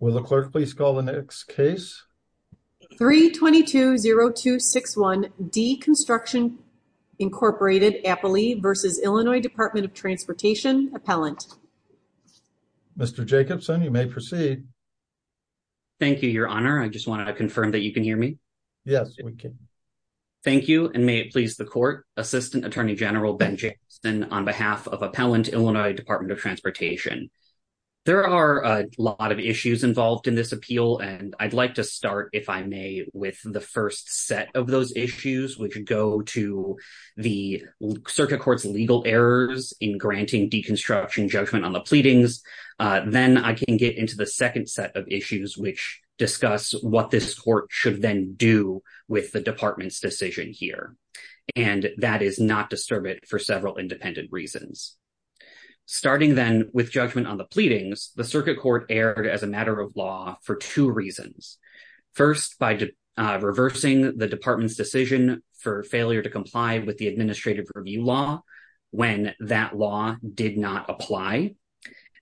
Will the clerk please call the next case? 3-22-0261 D. Construction, Inc. v. Illinois Department of Transportation, Appellant. Mr. Jacobson, you may proceed. Thank you, Your Honor. I just want to confirm that you can hear me. Yes, we can. Thank you, and may it please the Court, Assistant Attorney General Ben Jacobson, on behalf of Appellant, Illinois Department of Transportation. There are a lot of issues involved in this appeal, and I'd like to start, if I may, with the first set of those issues, which go to the Circuit Court's legal errors in granting deconstruction judgment on the pleadings. Then I can get into the second set of issues, which discuss what this Court should then do with the Department's decision here. And that is not disturbed for several independent reasons. Starting then with judgment on the pleadings, the Circuit Court erred as a matter of law for two reasons. First, by reversing the Department's decision for failure to comply with the Administrative Review Law when that law did not apply.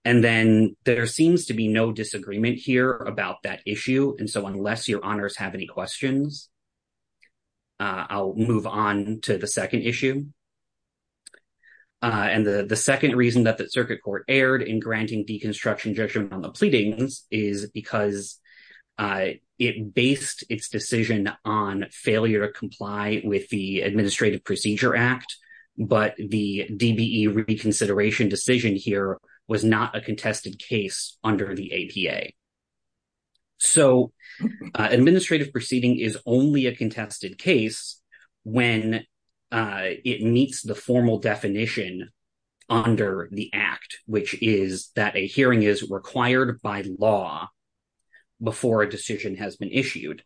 And then there seems to be disagreement here about that issue, and so unless Your Honors have any questions, I'll move on to the second issue. And the second reason that the Circuit Court erred in granting deconstruction judgment on the pleadings is because it based its decision on failure to comply with the Administrative Procedure Act, but the DBE reconsideration decision here was not a PA. So administrative proceeding is only a contested case when it meets the formal definition under the Act, which is that a hearing is required by law before a decision has been issued.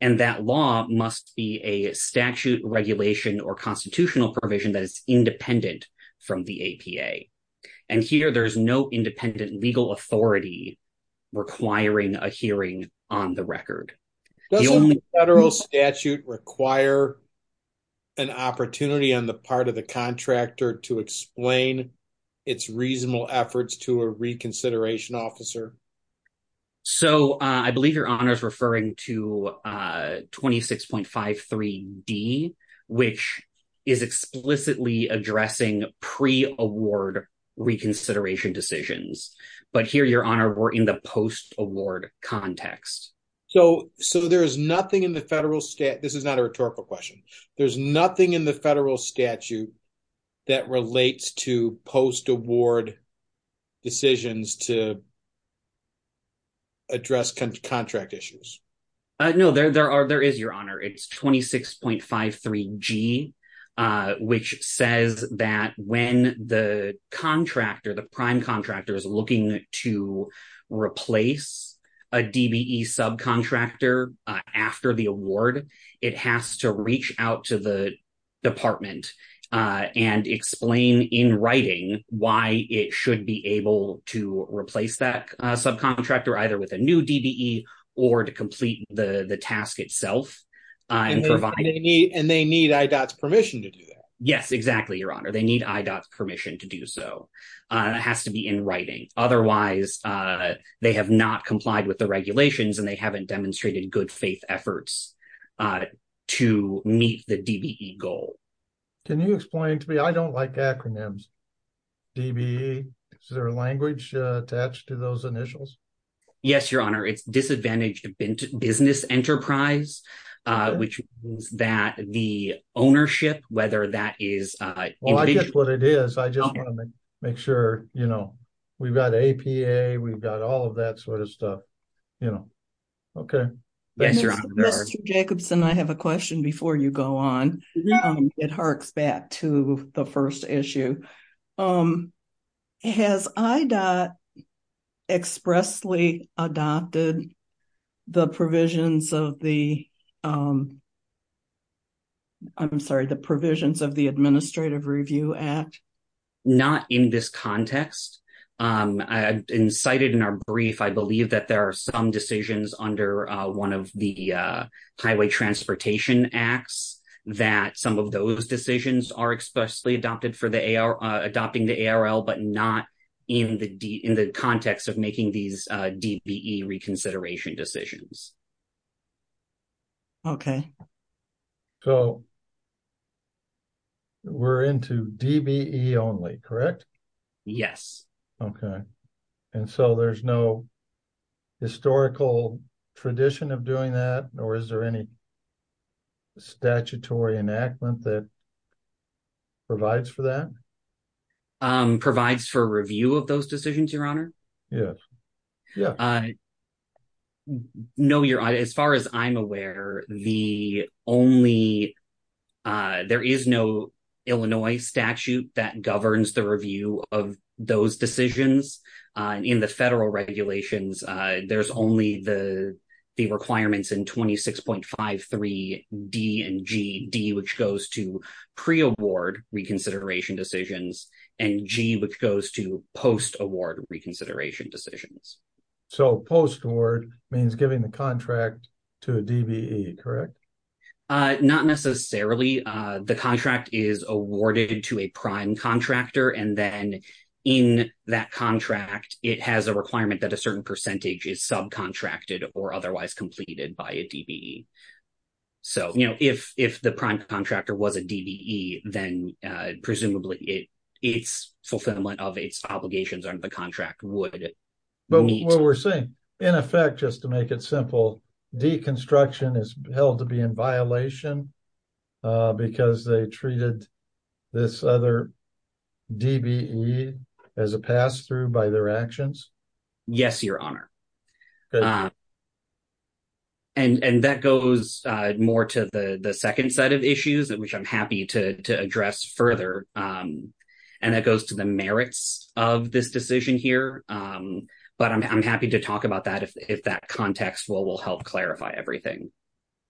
And that law must be a statute, regulation, or constitutional provision that is independent from the APA. And here there's no independent legal authority requiring a hearing on the record. Does a federal statute require an opportunity on the part of the contractor to explain its reasonable efforts to a reconsideration officer? So I believe Your Honor is referring to 26.53d, which is explicitly addressing pre-award reconsideration decisions. But here, Your Honor, we're in the post-award context. So there is nothing in the federal statute. This is not a rhetorical question. There's nothing in the federal statute that relates to post-award decisions to address contract issues. No, there are. There is, Your Honor. It's 26.53g, which says that when the contractor, the prime contractor is looking to replace a DBE subcontractor after the award, it has to reach out to the department and explain in writing why it should be able to replace that subcontractor, either with a new DBE or to complete the task itself. And they need IDOT's permission to do that. Yes, exactly, Your Honor. They need IDOT's permission to do so. It has to be in writing. Otherwise, they have not complied with the regulations and they haven't demonstrated good faith efforts to meet the DBE goal. Can you explain to me? I don't like acronyms. DBE, is there a language attached to those initials? Yes, Your Honor. It's disadvantaged business enterprise, which means that the ownership, whether that is... Well, I get what it is. I just want to make sure, you know, we've got APA, we've got all of that sort of stuff, you know. Okay. Yes, Your Honor. Mr. Jacobson, I have a question before you go on. It harks back to the first issue. Has IDOT expressly adopted the provisions of the... I'm sorry, the provisions of the Administrative Review Act? Not in this context. Cited in our brief, I believe that there are some decisions under one of the Highway Transportation Acts, that some of those decisions are expressly adopted for adopting the ARL, but not in the context of making these DBE reconsideration decisions. Okay. So, we're into DBE only, correct? Yes. Okay. And so, there's no historical tradition of doing that, or is there any statutory enactment that provides for that? Provides for review of those decisions, Your Honor? Yes. Yeah. No, Your Honor. As far as I'm aware, the only... there is no Illinois statute that governs the review of those decisions. In the federal regulations, there's only the requirements in 26.53 D and G, D which goes to pre-award reconsideration decisions, and G which goes to post-award reconsideration decisions. So, post-award means giving the contract to a DBE, correct? Not necessarily. The contract is awarded to a prime contractor, and then in that contract, it has a requirement that a certain percentage is subcontracted or otherwise completed by a DBE. So, if the prime contractor was a DBE, then presumably its fulfillment of its obligations under the contract would meet. What we're saying, in effect, just to make it simple, deconstruction is held to be in violation because they treated this other DBE as a pass-through by their actions? Yes, Your Honor. And that goes more to the second set of issues, which I'm happy to address further, and that goes to the merits of this decision here. But I'm happy to talk about that if that context will help clarify everything,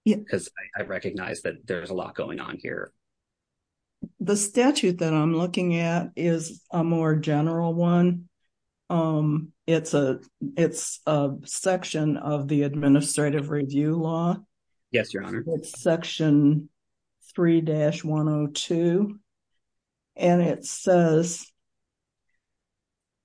because I recognize that there's a lot going on here. The statute that I'm looking at is a more general one. It's a section of the administrative review law. Yes, Your Honor. Section 3-102, and it says,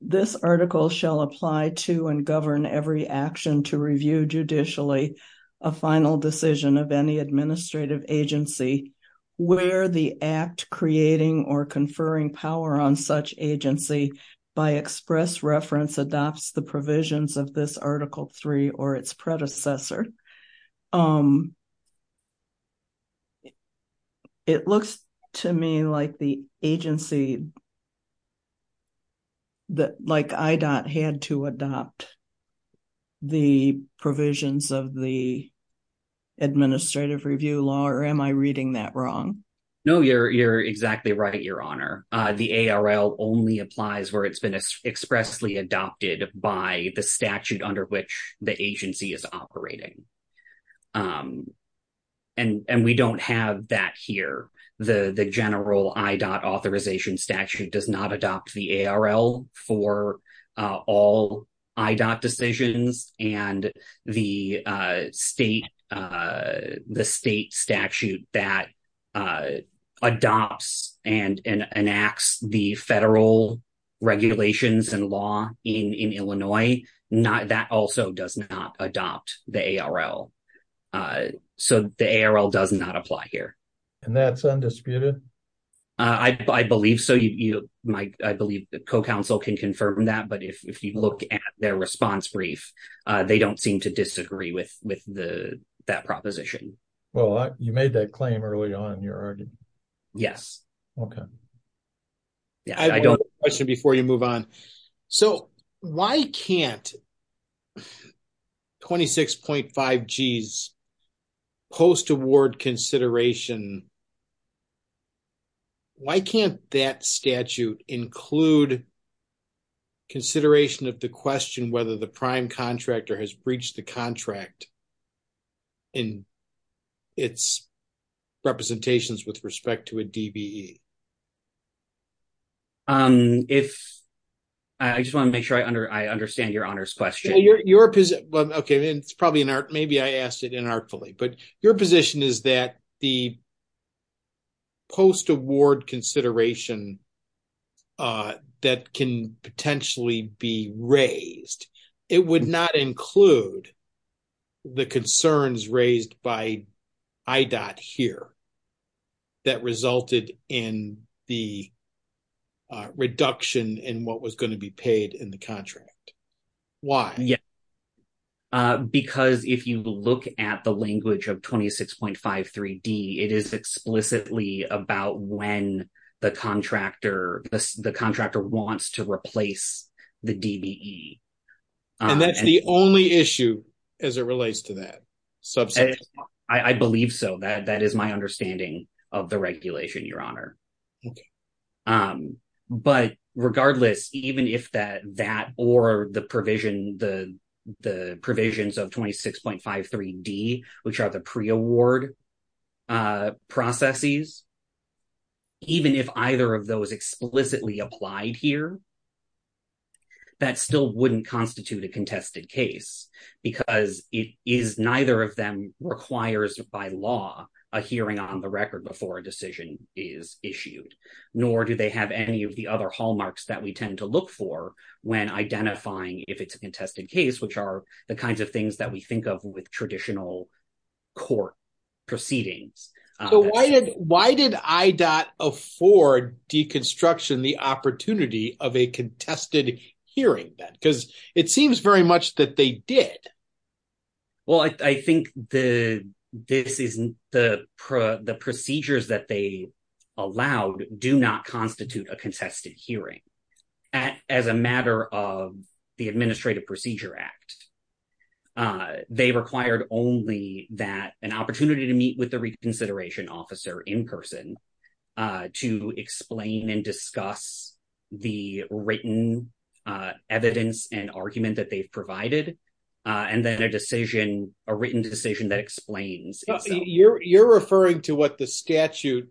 this article shall apply to and govern every action to review judicially a final decision of any administrative agency where the act creating or conferring power on such agency by express reference adopts the provisions of this Article 3 or its predecessor. And it looks to me like the agency, like IDOT had to adopt the provisions of the administrative review law, or am I reading that wrong? No, you're exactly right, Your Honor. The ARL only applies where it's been expressly adopted by the statute under which the agency is operating, and we don't have that here. The general IDOT authorization statute does not adopt the ARL for all IDOT decisions, and the state statute that adopts and enacts the federal regulations and law in Illinois, that also does not adopt the ARL. So the ARL does not apply here. And that's undisputed? I believe so. I believe the co-counsel can confirm that, but if you look at their response brief, they don't seem to disagree with that proposition. Well, you made that claim early on, Your Honor. Yes. Okay. Yeah, I don't... Before you move on, so why can't 26.5 G's post-award consideration, why can't that statute include consideration of the question whether the prime contractor has breached the contract in its representations with respect to a DBE? If... I just want to make sure I understand Your Honor's question. Well, your position... Well, okay, it's probably inart... Maybe I asked it inartfully, but your position is that the post-award consideration that can potentially be raised, it would not include the concerns raised by IDOT here that resulted in the reduction in what was going to be paid in the contract. Why? Because if you look at the language of 26.53 D, it is explicitly about when the contractor wants to replace the DBE. And that's the only issue as it relates to that subject? I believe so. That is my understanding of the regulation, Your Honor. Okay. But regardless, even if that or the provision, the provisions of 26.53 D, which are the pre-award processes, even if either of those explicitly applied here, that still wouldn't constitute a contested case because it is... Neither of them requires by law a hearing on the record before a decision is issued, nor do they have any of the other hallmarks that we tend to look for when identifying if it's a contested case, which are the kinds of things that we think of with traditional court proceedings. So why did IDOT afford deconstruction the opportunity of a contested hearing then? Because it seems very much that they did. Well, I think the procedures that they allowed do not constitute a contested hearing. As a matter of the Administrative Procedure Act, they required only that an opportunity to meet with the reconsideration officer in person to explain and discuss the written evidence and argument that they've provided. And then a written decision that explains. You're referring to what the statute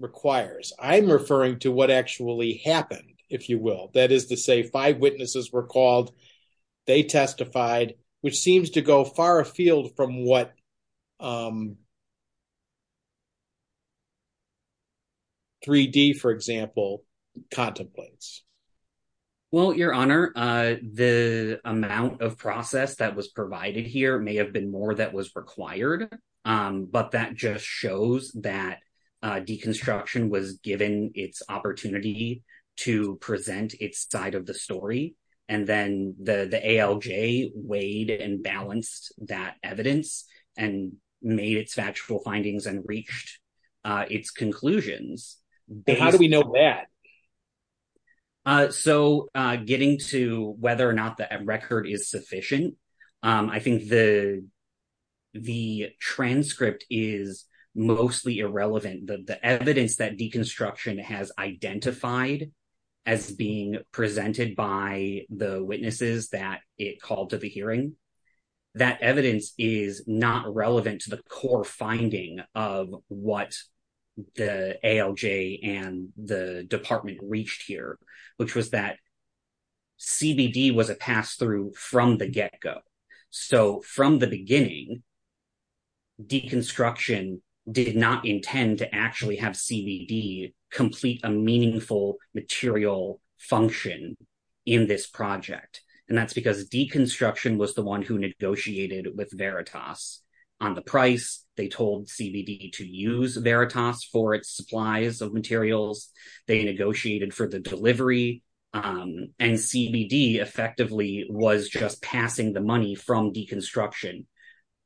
requires. I'm referring to what actually happened, if you will. That is to say, five witnesses were called, they testified, which seems to go far afield from what 3D, for example, contemplates. Well, Your Honor, the amount of process that was provided here may have been more that was required, but that just shows that deconstruction was given its opportunity to present its side of the story. And then the ALJ weighed and balanced that evidence and made its factual findings and reached its conclusions. How do we know that? So getting to whether or not the record is sufficient, I think the transcript is mostly irrelevant. The evidence that deconstruction has identified as being presented by the witnesses that it called to the hearing, that evidence is not relevant to the core finding of what the ALJ and the department reached here, which was that CBD was a pass-through from the get-go. So from the beginning, deconstruction did not intend to actually have CBD complete a meaningful material function in this project. And that's because deconstruction was the one who negotiated with Veritas on the price. They told CBD to use Veritas for its supplies of materials. They negotiated for the delivery. And CBD effectively was just passing the money from deconstruction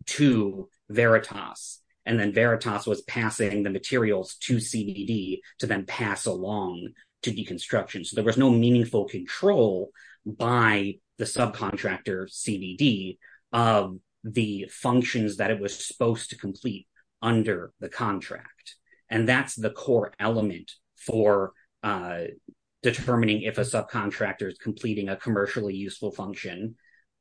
to Veritas. And then Veritas was passing the materials to CBD to then pass along to deconstruction. So there was no meaningful control by the subcontractor CBD of the functions that it was supposed to complete under the contract. And that's the core element for determining if a subcontractor is completing a commercially useful function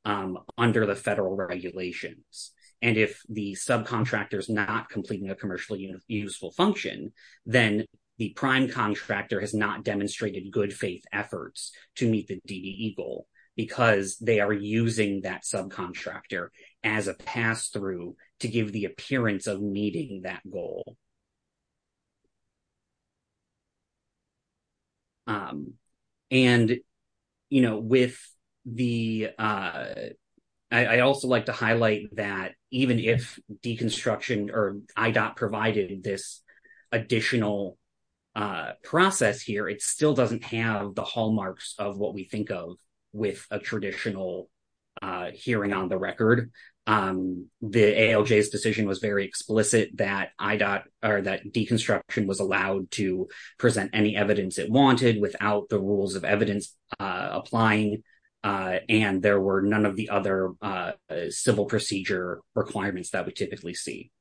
under the federal regulations. And if the subcontractor is not completing a commercially useful function, then the prime contractor has not demonstrated good faith efforts to meet the DDE goal because they are using that subcontractor as a pass-through to give the appearance of meeting that goal. And, you know, with the, I also like to highlight that even if deconstruction or IDOT provided this additional process here, it still doesn't have the hallmarks of what we think of with a traditional hearing on the record. The ALJ's decision was very explicit that IDOT, or that deconstruction was allowed to present any evidence it wanted without the rules of evidence applying. And there were none of the other civil procedure requirements that we typically see.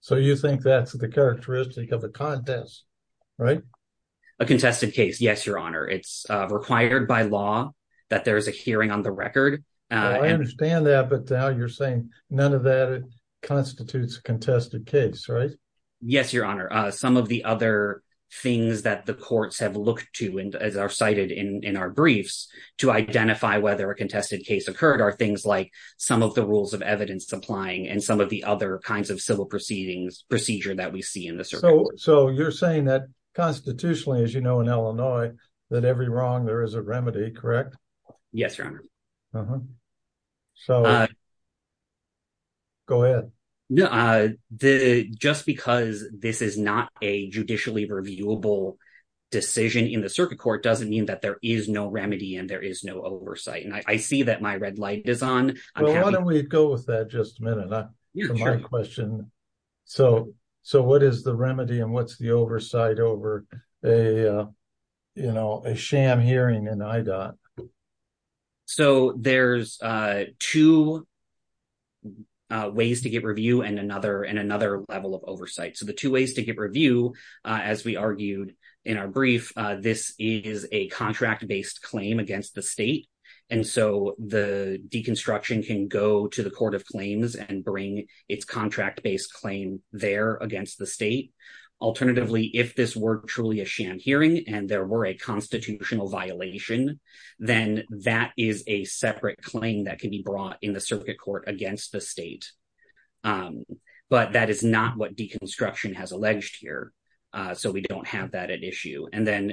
So you think that's the characteristic of a contest, right? A contested case, yes, your honor. It's required by law that there's a hearing on the record. I understand that. But now you're saying none of that constitutes a contested case, right? Yes, your honor. Some of the other things that the courts have looked to and are cited in our briefs to identify whether a contested case occurred are things like some of the rules of evidence applying and some of the other kinds of civil proceedings procedure that we see in the circuit. So you're saying that constitutionally, as you know, in Illinois, that every wrong there is a remedy, correct? Yes, your honor. So go ahead. Just because this is not a judicially reviewable decision in the circuit court doesn't mean that there is no remedy and there is no oversight. And I see that my red light is on. Well, why don't we go with that just a minute. So what is the remedy and what's the oversight over a sham hearing in IDOT? So there's two ways to get review and another level of oversight. So the two ways to get review, as we argued in our brief, this is a contract-based claim against the state. And so the deconstruction can go to the court of claims and bring its contract-based claim there against the state. Alternatively, if this were truly a sham hearing and there were a constitutional violation, then that is a separate claim that can be brought in the circuit court against the state. But that is not what deconstruction has alleged here. So we don't have that at issue. And then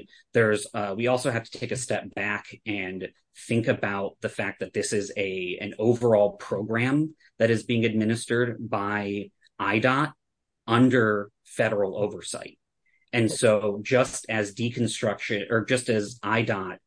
we also have to take a step back and think about the fact that this is an overall program that is being administered by IDOT under federal oversight. And so just as IDOT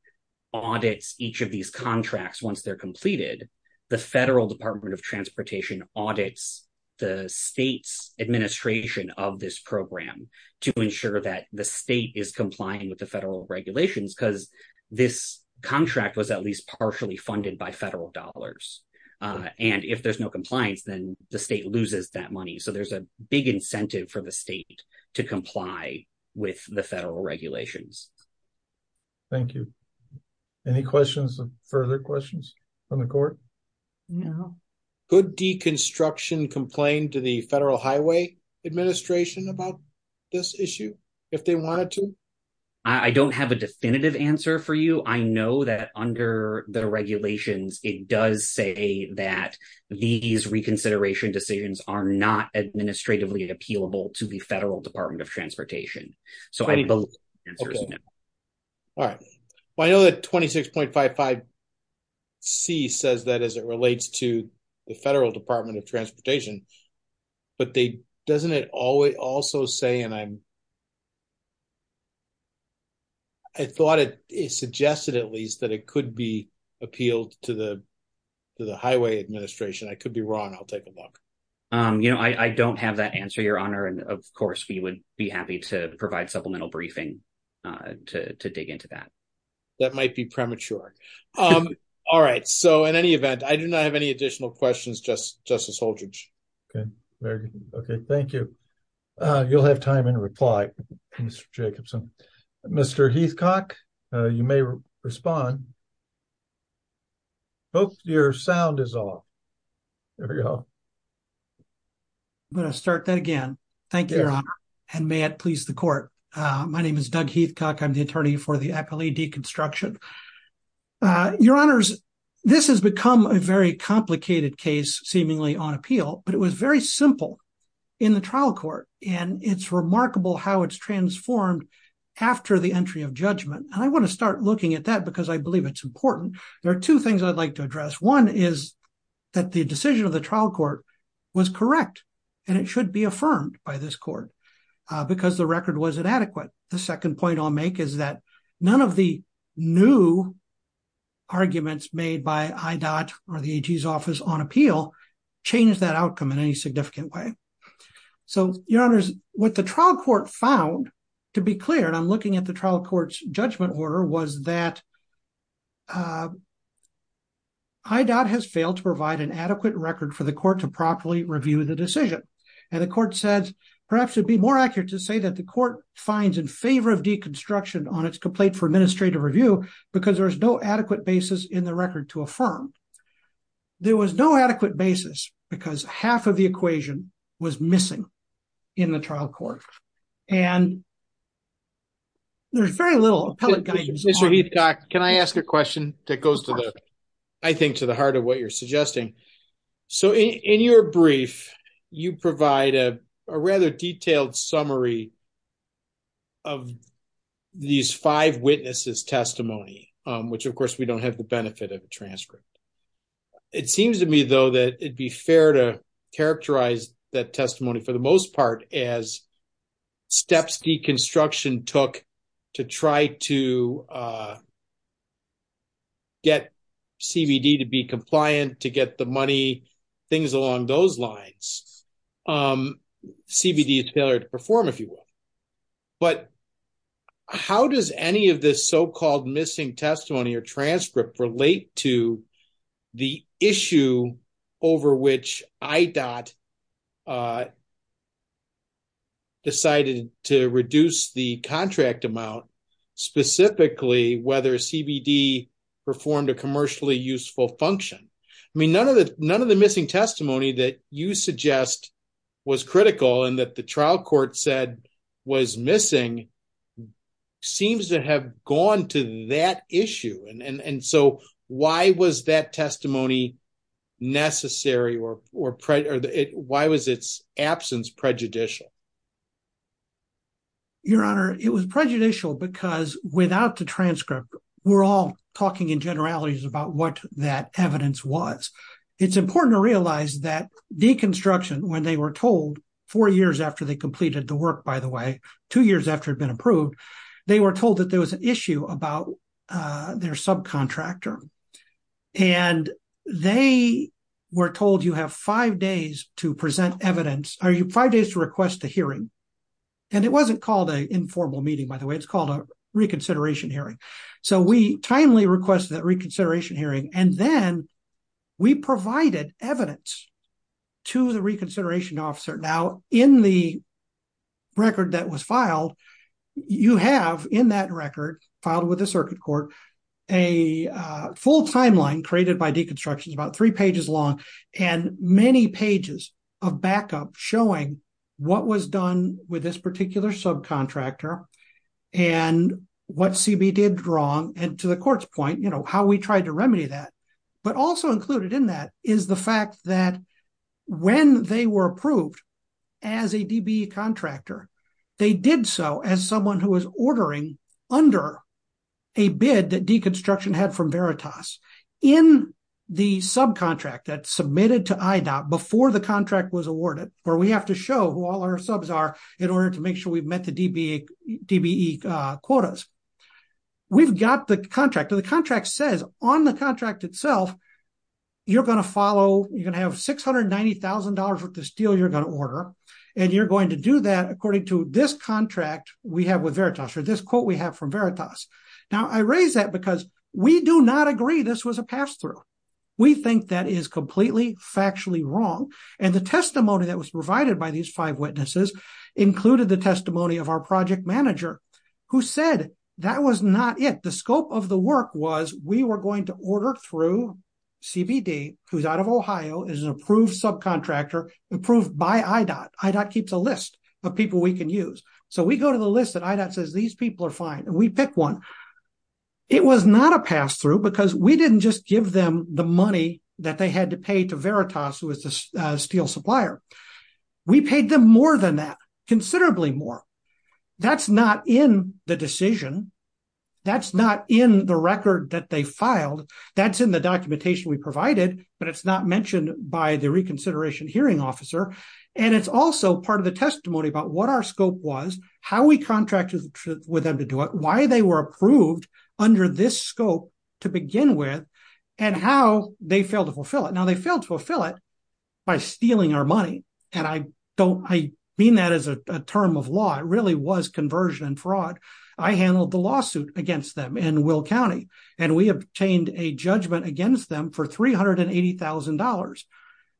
audits each of these contracts once they're completed, the Federal Department of Transportation audits the state's administration of this program to ensure that the state is complying with the federal regulations, because this contract was at least partially funded by federal dollars. And if there's no compliance, then the state loses that money. So there's a big incentive for the state to comply with the federal regulations. Thank you. Any questions or further questions from the court? No. Could deconstruction complain to the Federal Highway Administration about this issue if they wanted to? I don't have a definitive answer for you. I know that under the regulations, it does say that these reconsideration decisions are not administratively appealable to the Federal Department of Transportation. So I believe the answer is no. All right. Well, I know that 26.55C says that as it relates to the Federal Department of Transportation, but doesn't it also say, and I'm... I thought it suggested at least that it could be appealed to the Highway Administration. I could be wrong. I'll take a look. I don't have that answer, Your Honor. And of course, we would be happy to provide supplemental briefing to dig into that. That might be premature. All right. So in any event, I do not have any additional questions, Justice Holdredge. Okay. Very good. Okay. Thank you. You'll have time in reply, Mr. Jacobson. Mr. Heathcock, you may respond. Hope your sound is off. There we go. I'm going to start that again. Thank you, Your Honor. And may it please the court. My name is Doug Heathcock. I'm the attorney for the Appellee Deconstruction. Your Honors, this has become a very complicated case, seemingly on appeal, but it was very simple in the trial court. And it's remarkable how it's transformed after the entry of judgment. And I want to start looking at that because I believe it's important. There are two things I'd like to address. One is that the decision of the trial court was correct, and it should be affirmed by this court because the record was inadequate. The second point I'll make is that none of the new arguments made by IDOT or the AG's office on appeal changed that outcome in any significant way. So, Your Honors, what the trial court found, to be clear, and I'm looking at the trial court's judgment order, was that IDOT has failed to provide an adequate record for the court to properly review the decision. And the court says, perhaps it would be more accurate to say that the court finds in favor of deconstruction on its complaint for administrative review because there is no adequate basis in the record to affirm. There was no adequate basis because half of the equation was missing in the trial court. Can I ask a question that goes, I think, to the heart of what you're suggesting? So, in your brief, you provide a rather detailed summary of these five witnesses' testimony, which, of course, we don't have the benefit of a transcript. It seems to me, though, that it'd be fair to characterize that testimony for the most part as steps deconstruction took to try to get CBD to be compliant, to get the money, things along those lines. CBD is failure to perform, if you will. But how does any of this so-called missing testimony or transcript relate to the issue over which IDOT decided to reduce the contract amount, specifically whether CBD performed a commercially useful function? I mean, none of the missing testimony that you suggest was critical and that the trial court said was missing seems to have gone to that issue. So, why was that testimony necessary or why was its absence prejudicial? Your Honor, it was prejudicial because without the transcript, we're all talking in generalities about what that evidence was. It's important to realize that deconstruction, when they were told four years after they completed the work, by the way, two years after it had been approved, they were told that there was an issue about their subcontractor. And they were told, you have five days to present evidence, five days to request a hearing. And it wasn't called an informal meeting, by the way, it's called a reconsideration hearing. So, we timely requested that reconsideration hearing and then we provided evidence to the reconsideration officer. Now, in the record that was filed, you have in that record filed with the circuit court, a full timeline created by deconstructions, about three pages long, and many pages of backup showing what was done with this particular subcontractor and what CBD did wrong and to the court's point, how we tried to remedy that. But also included in that is the fact that when they were approved as a DBE contractor, they did so as someone who was ordering under a bid that deconstruction had from Veritas. In the subcontract that submitted to IDOT before the contract was awarded, where we have to show who all our subs are in order to make sure we've met the DBE quotas, we've got the contract. The contract says on the contract itself, you're going to follow, you're going to have $690,000 worth of steel you're going to order, and you're going to do that according to this contract we have with Veritas or this quote we have from Veritas. Now, I raise that because we do not agree this was a pass-through. We think that is completely factually wrong. And the testimony that was provided by these five witnesses included the testimony of our project manager, who said that was not it. The scope of the work was we were going to order through CBD, who's out of Ohio, is an approved subcontractor approved by IDOT. IDOT keeps a list of people we can use. So we go to the list that IDOT says these people are fine, and we pick one. It was not a pass-through because we didn't just give them the money that they had to pay to Veritas, who is the steel supplier. We paid them more than that, considerably more. That's not in the decision. That's not in the record that they filed. That's in the documentation we provided, but it's not mentioned by the reconsideration hearing officer. And it's also part of the testimony about what our scope was, how we contracted with them to do it, why they were approved under this scope to begin with, and how they failed to fulfill it. Now, they failed to fulfill it by stealing our money, and I don't, I mean that as a term of law. It really was conversion and fraud. I handled the lawsuit against them in Will County, and we obtained a judgment against them for $380,000.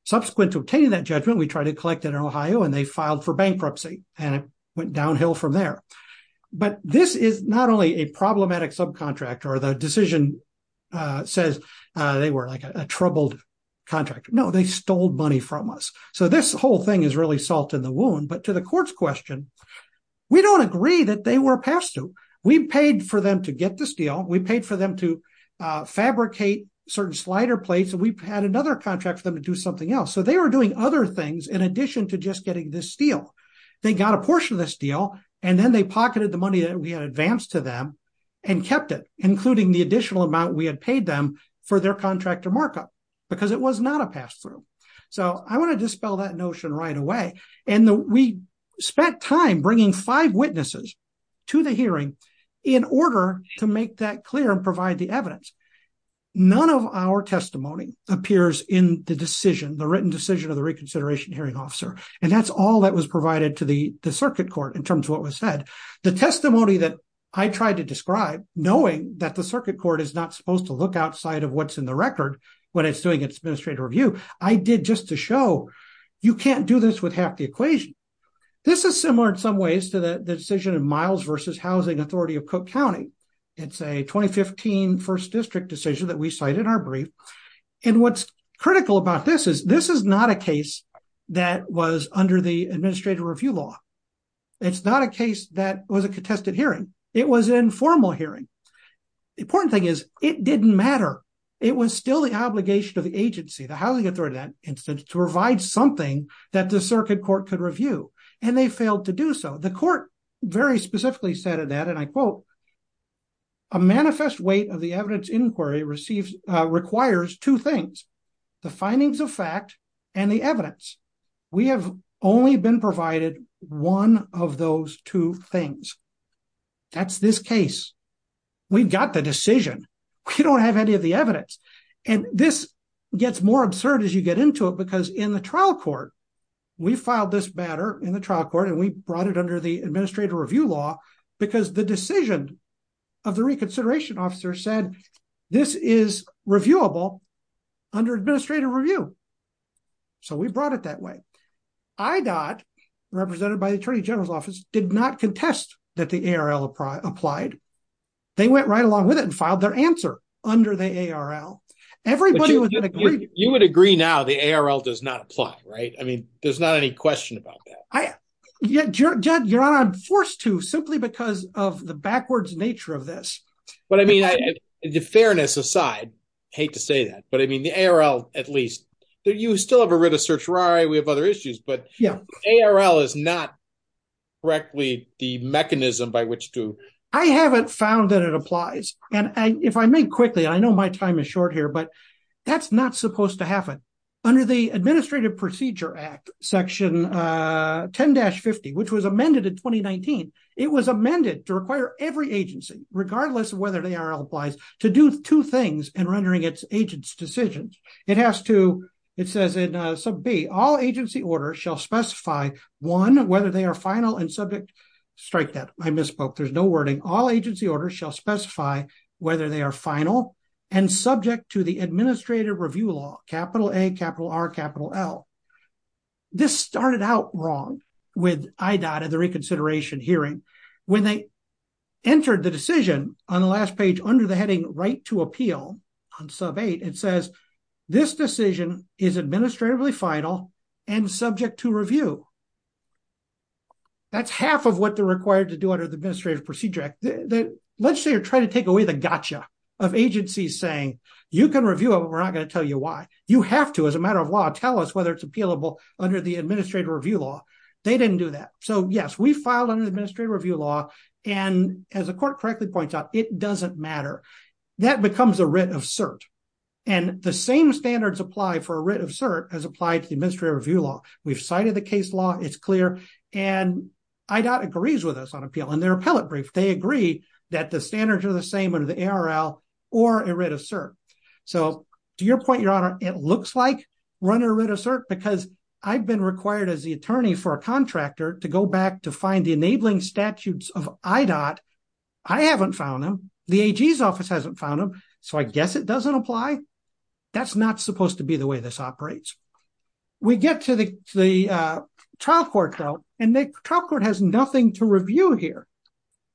Subsequent to obtaining that judgment, we tried to collect it in Ohio, and they filed for bankruptcy, and it went downhill from there. But this is not only a problematic subcontractor. The decision says they were like a troubled contractor. No, they stole money from us. So this whole thing is really salt in the wound. But to the court's question, we don't agree that they were past due. We paid for them to get the steel. We paid for them to fabricate certain slider plates. We had another contract for them to do something else. So they were doing other things in addition to just getting this steel. They got a portion of the steel, and then they pocketed the advance to them and kept it, including the additional amount we had paid them for their contractor markup, because it was not a pass-through. So I want to dispel that notion right away. And we spent time bringing five witnesses to the hearing in order to make that clear and provide the evidence. None of our testimony appears in the decision, the written decision of the reconsideration hearing officer, and that's all that was provided to the the circuit court in 2015. The testimony that I tried to describe, knowing that the circuit court is not supposed to look outside of what's in the record when it's doing its administrative review, I did just to show you can't do this with half the equation. This is similar in some ways to the decision of Miles v. Housing Authority of Cook County. It's a 2015 first district decision that we cite in our brief. And what's critical about this is this is not a case that was under the administrative review law. It's not a case that was a contested hearing. It was an informal hearing. The important thing is it didn't matter. It was still the obligation of the agency, the housing authority in that instance, to provide something that the circuit court could review, and they failed to do so. The court very specifically said of that, and I quote, a manifest weight of the evidence inquiry requires two things, the findings of fact and the evidence. We have only been provided one of those two things. That's this case. We've got the decision. We don't have any of the evidence. And this gets more absurd as you get into it because in the trial court, we filed this matter in the trial court, and we brought it under the administrative review law because the decision of the reconsideration officer said this is reviewable under administrative review. So we brought it that way. IDOT, represented by the attorney general's office, did not contest that the ARL applied. They went right along with it and filed their answer under the ARL. You would agree now the ARL does not apply, right? I mean, there's not any question about that. Yeah, your honor, I'm forced to simply because of the backwards nature of this. But I mean, the fairness aside, hate to say that, but I mean, the ARL, at least, you still have a writ of certiorari. We have other issues, but ARL is not correctly the mechanism by which to. I haven't found that it applies. And if I may quickly, I know my time is short here, but that's not supposed to happen. Under the Administrative Procedure Act, section 10-50, which was amended in 2019, it was amended to require every agency, regardless of whether the ARL applies, to do two things in rendering its agents' decisions. It has to, it says in sub B, all agency orders shall specify, one, whether they are final and subject, strike that, I misspoke. There's no wording. All agency orders shall specify whether they are final and subject to the Administrative Review Law, capital A, capital R, capital L. This started out wrong with IDOT at the reconsideration hearing. When they entered the decision on the last page under the heading, Right to Appeal, on sub eight, it says, this decision is administratively final and subject to review. That's half of what they're required to do under the Administrative Procedure Act. The legislature tried to take away the gotcha of agencies saying, you can review it, but we're not going to tell you why. You have to, as a matter of law, tell us whether it's appealable under the Administrative Review Law. They didn't do that. So yes, we filed under the Administrative Review Law, and as the court correctly points out, it doesn't matter. That becomes a writ of cert. And the same standards apply for a writ of cert as applied to the Administrative Review Law. We've cited the case law, it's clear, and IDOT agrees with us on appeal. In their appellate brief, they agree that the standards are the same under the ARL or a writ of cert. So to your point, Your Honor, it looks like run a writ of cert, because I've been required as the attorney for a contractor to go back to find the enabling statutes of IDOT. I haven't found them. The AG's office hasn't found them, so I guess it doesn't apply. That's not supposed to be the way this operates. We get to the trial court, though, and the trial court has nothing to review here.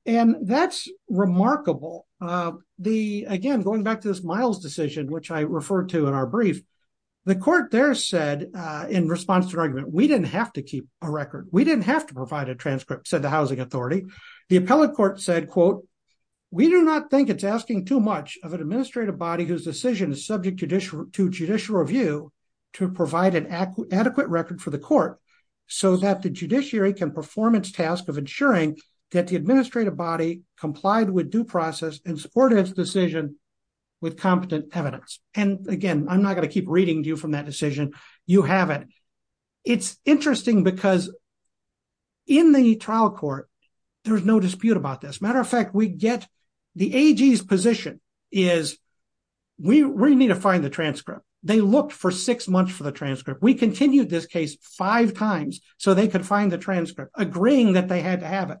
And that's remarkable. Again, going back to this Miles decision, which I referred to in our brief, the court there said, in response to an argument, we didn't have to keep a record. We didn't have to provide a transcript, said the housing authority. The appellate court said, quote, we do not think it's asking too much of an administrative body whose decision is subject to judicial review to provide an adequate record for the court so that the judiciary can perform its task of ensuring that the administrative body complied with due process and supported its decision with competent evidence. And again, I'm not going to keep reading to you from that decision. You have it. It's interesting because in the trial court, there's no dispute about this. Matter of fact, the AG's position is we need to find the transcript. They looked for six months for the transcript. We continued this case five times so they could find the transcript, agreeing that they had to have it.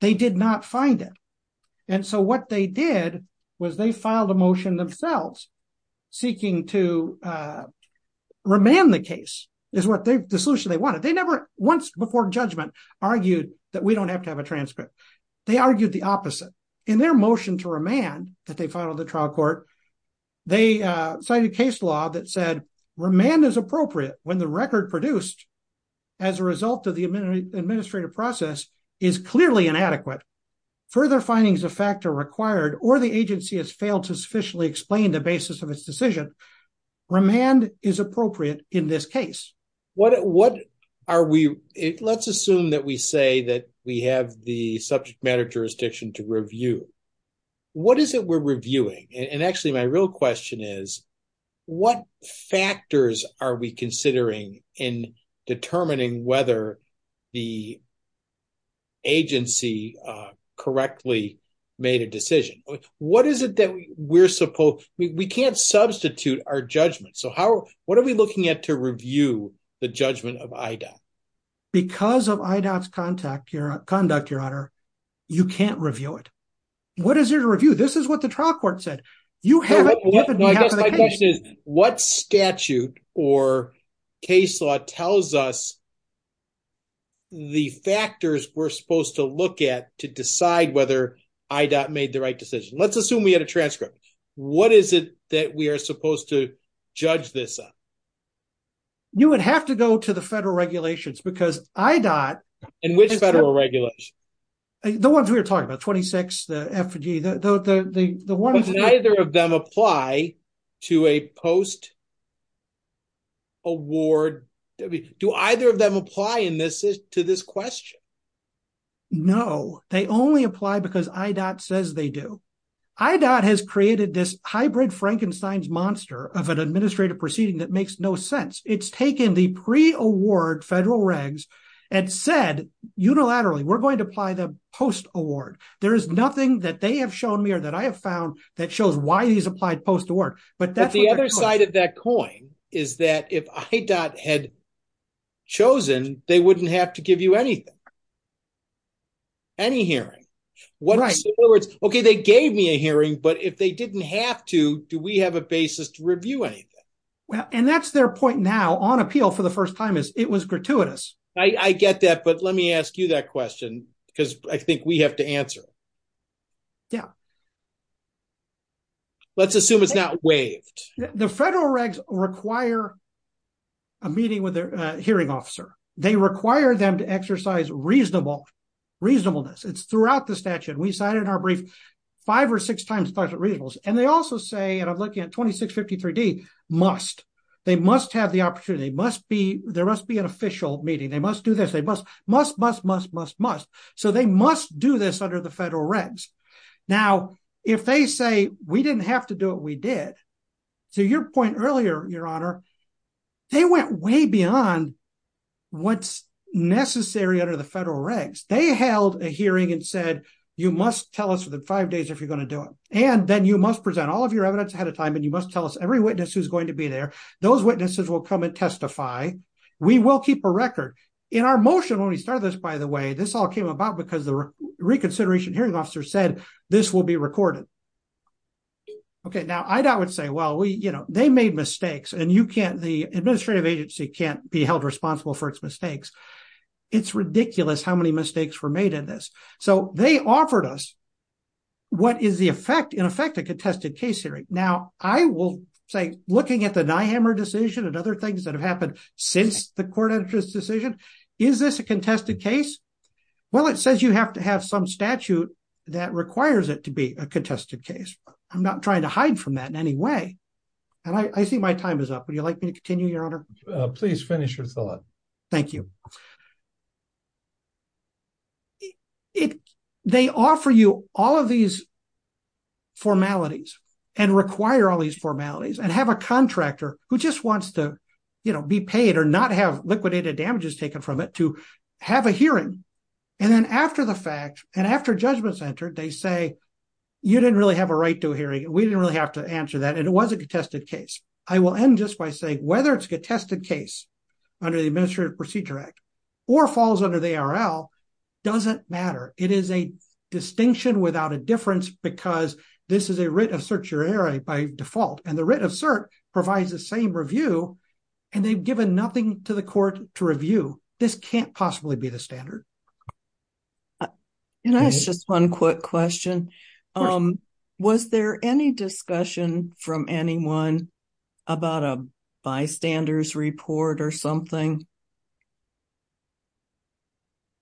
They did not find it. And so what they did was they filed a motion themselves seeking to remand the case is the solution they wanted. They never once before argued that we don't have to have a transcript. They argued the opposite in their motion to remand that they filed the trial court. They cited a case law that said remand is appropriate when the record produced as a result of the administrative process is clearly inadequate. Further findings of fact are required or the agency has failed to sufficiently explain the we say that we have the subject matter jurisdiction to review. What is it we're reviewing? And actually, my real question is, what factors are we considering in determining whether the agency correctly made a decision? What is it that we're supposed, we can't substitute our Because of IDOT's conduct, your honor, you can't review it. What is there to review? This is what the trial court said. You have it. What statute or case law tells us the factors we're supposed to look at to decide whether IDOT made the right decision? Let's assume we had a transcript. What is it that we are supposed to judge this up? You would have to go to the federal regulations because IDOT... And which federal regulations? The ones we were talking about, 26, the FDG, the ones... Do either of them apply to a post-award? Do either of them apply to this question? No, they only apply because IDOT says they do. IDOT has created this hybrid Frankenstein's monster of an administrative proceeding that makes no sense. It's taken the pre-award federal regs and said, unilaterally, we're going to apply the post-award. There is nothing that they have shown me or that I have found that shows why these applied post-award. But that's... The other side of that coin is that if IDOT had chosen, they wouldn't have to give you anything. Any hearing. In other words, okay, they gave me a hearing, but if they didn't have to, do we have a basis to review anything? Well, and that's their point now on appeal for the first time is it was gratuitous. I get that, but let me ask you that question because I think we have to answer it. Yeah. Let's assume it's not waived. The federal regs require a meeting with a hearing officer. They require them to exercise reasonableness. It's throughout the statute. We cited in our brief five or six times it talks about reasonableness. And they also say, and I'm looking at 2653D, must. They must have the opportunity. There must be an official meeting. They must do this. They must, must, must, must, must, must. So they must do this under the federal regs. Now, if they say, we didn't have to do it, we did. To your point earlier, your honor, they went way beyond what's necessary under the federal regs. They held a hearing and said, you must tell us within five days if you're going to do it. And then you must present all of your evidence ahead of time. And you must tell us every witness who's going to be there. Those witnesses will come and testify. We will keep a record. In our motion, when we started this, by the way, this all came about because the reconsideration hearing officer said this will be recorded. Okay. Now I would say, well, we, you know, they made mistakes and you can't, the administrative agency can't be held responsible for its mistakes. It's ridiculous how many mistakes were made in this. So they offered us what is the effect, in effect, a contested case hearing. Now I will say, looking at the Dyehammer decision and other things that have happened since the court entered this decision, is this a contested case? Well, it says you have to have some statute that requires it to be a contested case. I'm not Please finish your thought. Thank you. They offer you all of these formalities and require all these formalities and have a contractor who just wants to, you know, be paid or not have liquidated damages taken from it to have a hearing. And then after the fact, and after judgment's entered, they say, you didn't really have a right to a hearing. We didn't really have to answer that. And it was a contested case. I will end just by saying whether it's a contested case under the Administrative Procedure Act or falls under the ARL doesn't matter. It is a distinction without a difference because this is a writ of certiorari by default. And the writ of cert provides the same review and they've given nothing to the court to review. This can't possibly be the standard. Can I ask just one quick question? Um, was there any discussion from anyone about a bystanders report or something?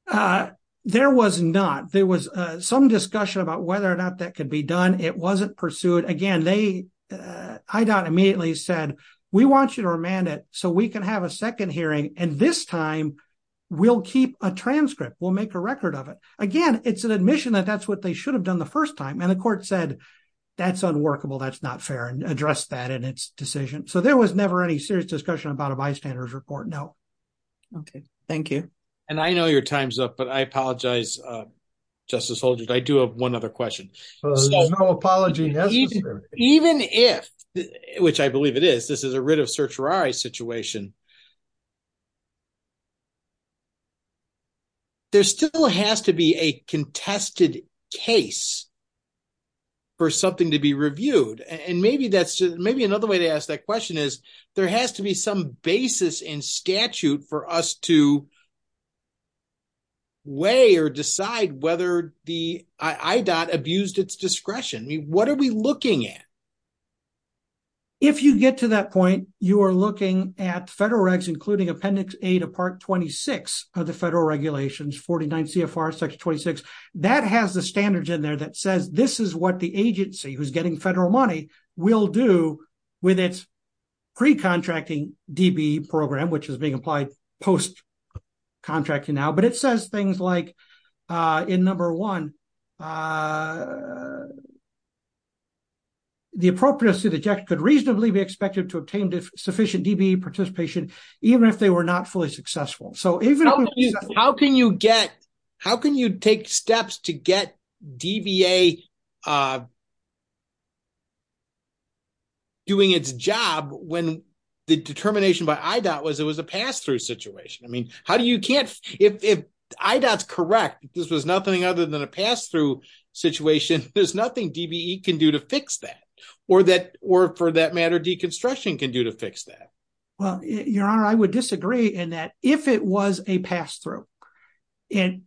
Uh, there was not. There was some discussion about whether or not that could be done. It wasn't pursued. Again, they, I doubt immediately said, we want you to remand it so we can have a second hearing. And this time we'll keep a transcript. We'll make a record of it. Again, it's an admission that that's what they should have done the first time. And the court said, that's unworkable. That's not fair and address that in its decision. So there was never any serious discussion about a bystanders report. No. Okay. Thank you. And I know your time's up, but I apologize, Justice Holdren. I do have one other question. No apology. Even if, which I believe it is, this is a writ of certiorari situation. There still has to be a contested case for something to be reviewed. And maybe that's, maybe another way to ask that question is there has to be some basis in statute for us to weigh or decide whether the IDOT abused its discretion. I mean, what are we looking at? If you get to that point, you are looking at federal regs, including appendix eight of part 26 of the federal regulations, 49 CFR section 26. That has the standards in there that says, this is what the agency who's getting federal money will do with its pre-contracting DB program, which is being applied post-contracting now. But it says things like in number one, the appropriateness to the check could reasonably be expected to obtain sufficient DBE participation, even if they were not fully successful. So how can you get, how can you take steps to get DBA doing its job when the determination by IDOT was it was a pass-through situation? I mean, how do you can't, if IDOT's correct, this was nothing other than a pass-through situation, there's nothing DBE can do to fix that or that, or for that matter, deconstruction can do to fix that. Well, your honor, I would disagree in that. If it was a pass-through, it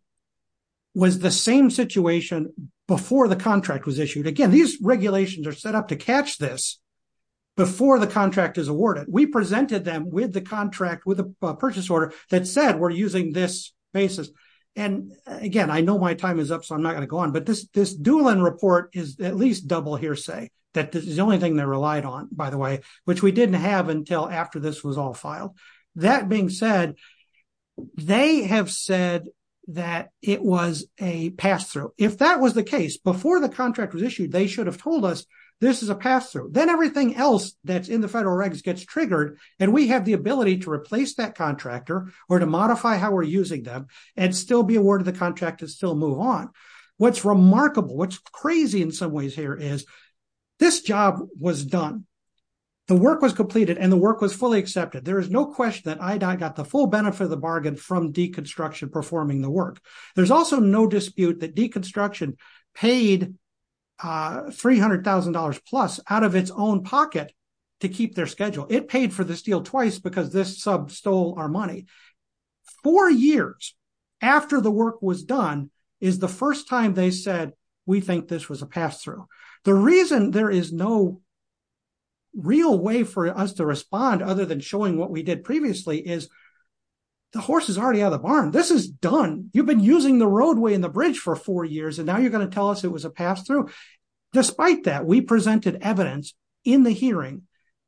was the same situation before the contract was issued. Again, these regulations are set up to catch this before the contract is awarded. We presented them with the contract, with a purchase order that said, we're using this basis. And again, I know my time is up, I'm not going to go on, but this Doolin report is at least double hearsay, that this is the only thing they're relied on, by the way, which we didn't have until after this was all filed. That being said, they have said that it was a pass-through. If that was the case, before the contract was issued, they should have told us this is a pass-through. Then everything else that's in the federal regs gets triggered. And we have the ability to replace that contractor or to modify how we're using them and still be awarded the contract and still move on. What's remarkable, what's crazy in some ways here is this job was done. The work was completed and the work was fully accepted. There is no question that I got the full benefit of the bargain from deconstruction performing the work. There's also no dispute that deconstruction paid $300,000 plus out of its own pocket to keep their schedule. It paid for this deal twice because this sub stole our money. Four years after the work was done is the first time they said, we think this was a pass-through. The reason there is no real way for us to respond other than showing what we did previously is the horse is already out of the barn. This is done. You've been using the roadway and the bridge for four years, and now you're going to tell us it was a pass-through. Despite that, we presented evidence in the hearing,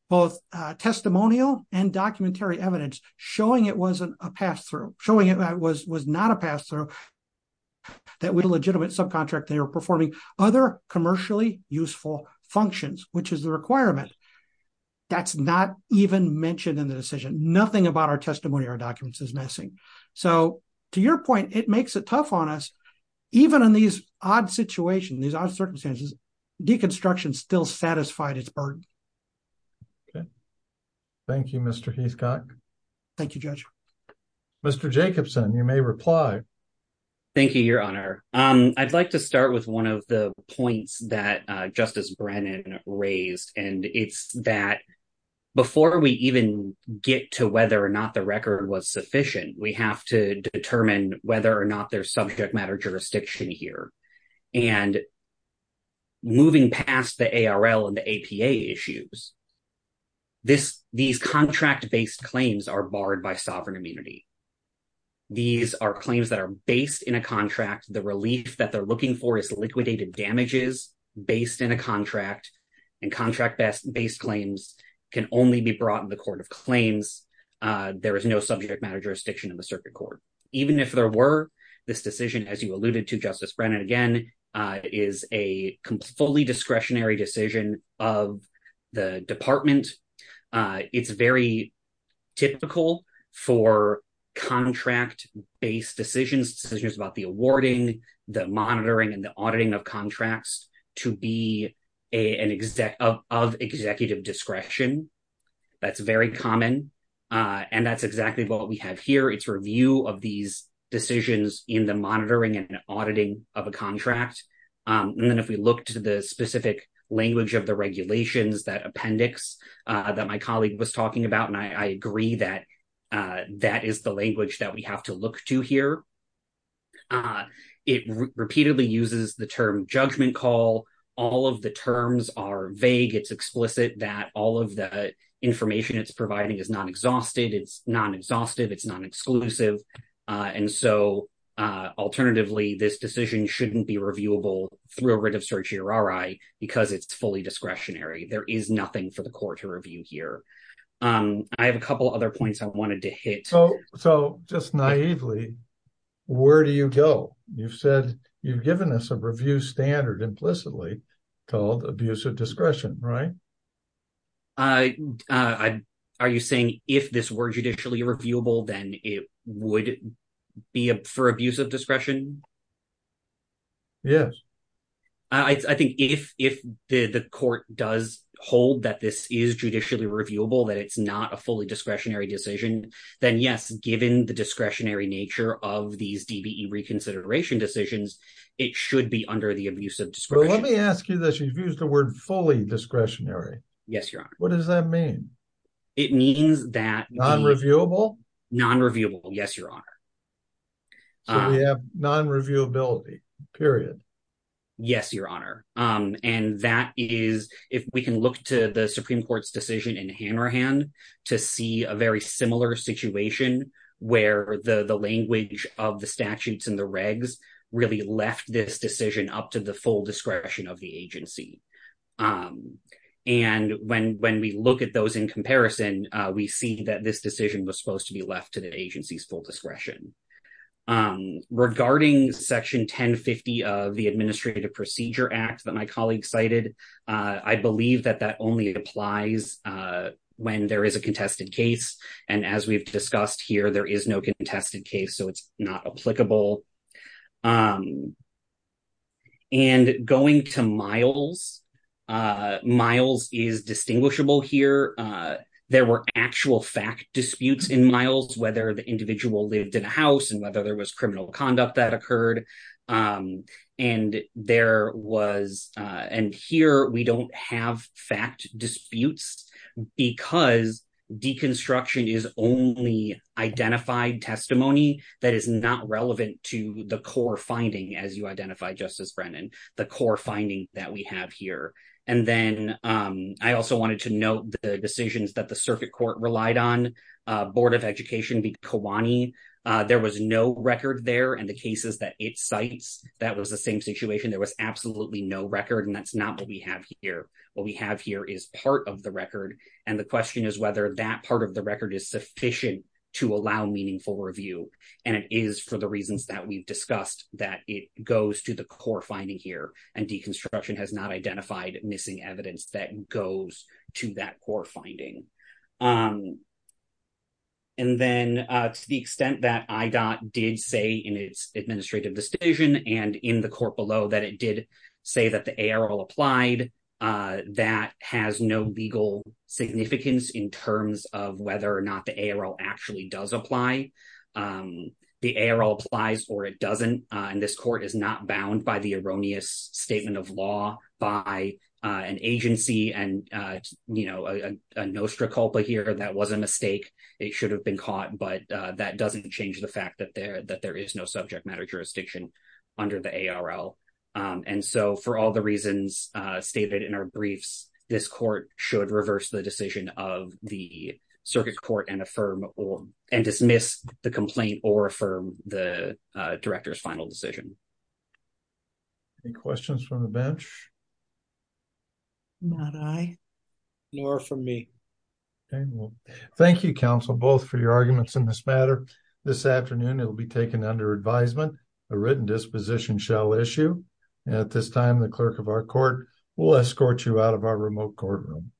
both testimonial and documentary evidence showing it wasn't a pass-through, showing it was not a pass-through, that with a legitimate subcontract they were performing other commercially useful functions, which is the requirement. That's not even mentioned in the decision. Nothing about our testimony or documents is missing. To your point, it makes it tough on us. Even in these odd situations, these odd circumstances, deconstruction still satisfied its burden. Okay. Thank you, Mr. Heathcock. Thank you, Judge. Mr. Jacobson, you may reply. Thank you, Your Honor. I'd like to start with one of the points that Justice Brennan raised. It's that before we even get to whether or not the record was sufficient, we have to determine whether or not there's subject matter jurisdiction here. And moving past the ARL and the APA issues, these contract-based claims are barred by sovereign immunity. These are claims that are based in a contract. The relief that they're looking for is liquidated damages based in a contract, and contract-based claims can only be brought in the court of claims. There is no subject matter jurisdiction in the circuit court. Even if there were, this decision, as you alluded to, Justice Brennan, again, is a completely discretionary decision of the department. It's very typical for contract-based decisions, decisions about the awarding, the monitoring, and the auditing of contracts, to be of executive discretion. That's very common, and that's exactly what we have here. It's review of these decisions in the monitoring and auditing of a contract. And then if we look to the specific language of the regulations, that appendix that my colleague was talking about, and I agree that that is the language that we have to look to here. It repeatedly uses the term judgment call. All of the terms are vague. It's explicit that all of the information it's exclusive. And so alternatively, this decision shouldn't be reviewable through a writ of certiorari because it's fully discretionary. There is nothing for the court to review here. I have a couple other points I wanted to hit. So just naively, where do you go? You've said you've given us a review standard implicitly called abusive discretion, right? Are you saying if this were judicially reviewable, then it would be for abusive discretion? Yes. I think if the court does hold that this is judicially reviewable, that it's not a fully discretionary decision, then yes, given the discretionary nature of these DBE reconsideration decisions, it should be under the abuse of discretion. But let me ask you this. You've What does that mean? It means that- Non-reviewable? Non-reviewable. Yes, your honor. So we have non-reviewability, period. Yes, your honor. And that is, if we can look to the Supreme Court's decision in Hanrahan to see a very similar situation where the language of the statutes and the regs really left this decision up to the full discretion of the agency. And when we look at those in comparison, we see that this decision was supposed to be left to the agency's full discretion. Regarding Section 1050 of the Administrative Procedure Act that my colleague cited, I believe that that only applies when there is a contested case. And as we've seen, and going to Miles, Miles is distinguishable here. There were actual fact disputes in Miles, whether the individual lived in a house and whether there was criminal conduct that occurred. And there was, and here we don't have fact disputes because deconstruction is only identified testimony that is not relevant to the core finding as you identify, Justice Brennan, the core finding that we have here. And then I also wanted to note the decisions that the circuit court relied on, Board of Education v. Kiwani. There was no record there and the cases that it cites, that was the same situation. There was absolutely no record and that's not what we have here. What we have here is part of the record. And the question is whether that part of the record is sufficient to allow meaningful review. And it is for the reasons that we've discussed that it goes to the core finding here and deconstruction has not identified missing evidence that goes to that core finding. And then to the extent that IDOT did say in its administrative decision and in the court below that it did say that the ARL applied, that has no legal significance in terms of whether or not the ARL actually does apply. The ARL applies or it doesn't. And this court is not bound by the erroneous statement of law by an agency and you know, a nostra culpa here that was a mistake. It should have been caught, but that doesn't change the fact that there is no subject matter jurisdiction under the ARL. And so for all the should reverse the decision of the circuit court and affirm or and dismiss the complaint or affirm the director's final decision. Any questions from the bench? Not I. Nor from me. Okay, well thank you counsel both for your arguments in this matter. This afternoon it will be taken under advisement. A written disposition shall issue. At this time the clerk of our court will escort you out of our remote courtroom.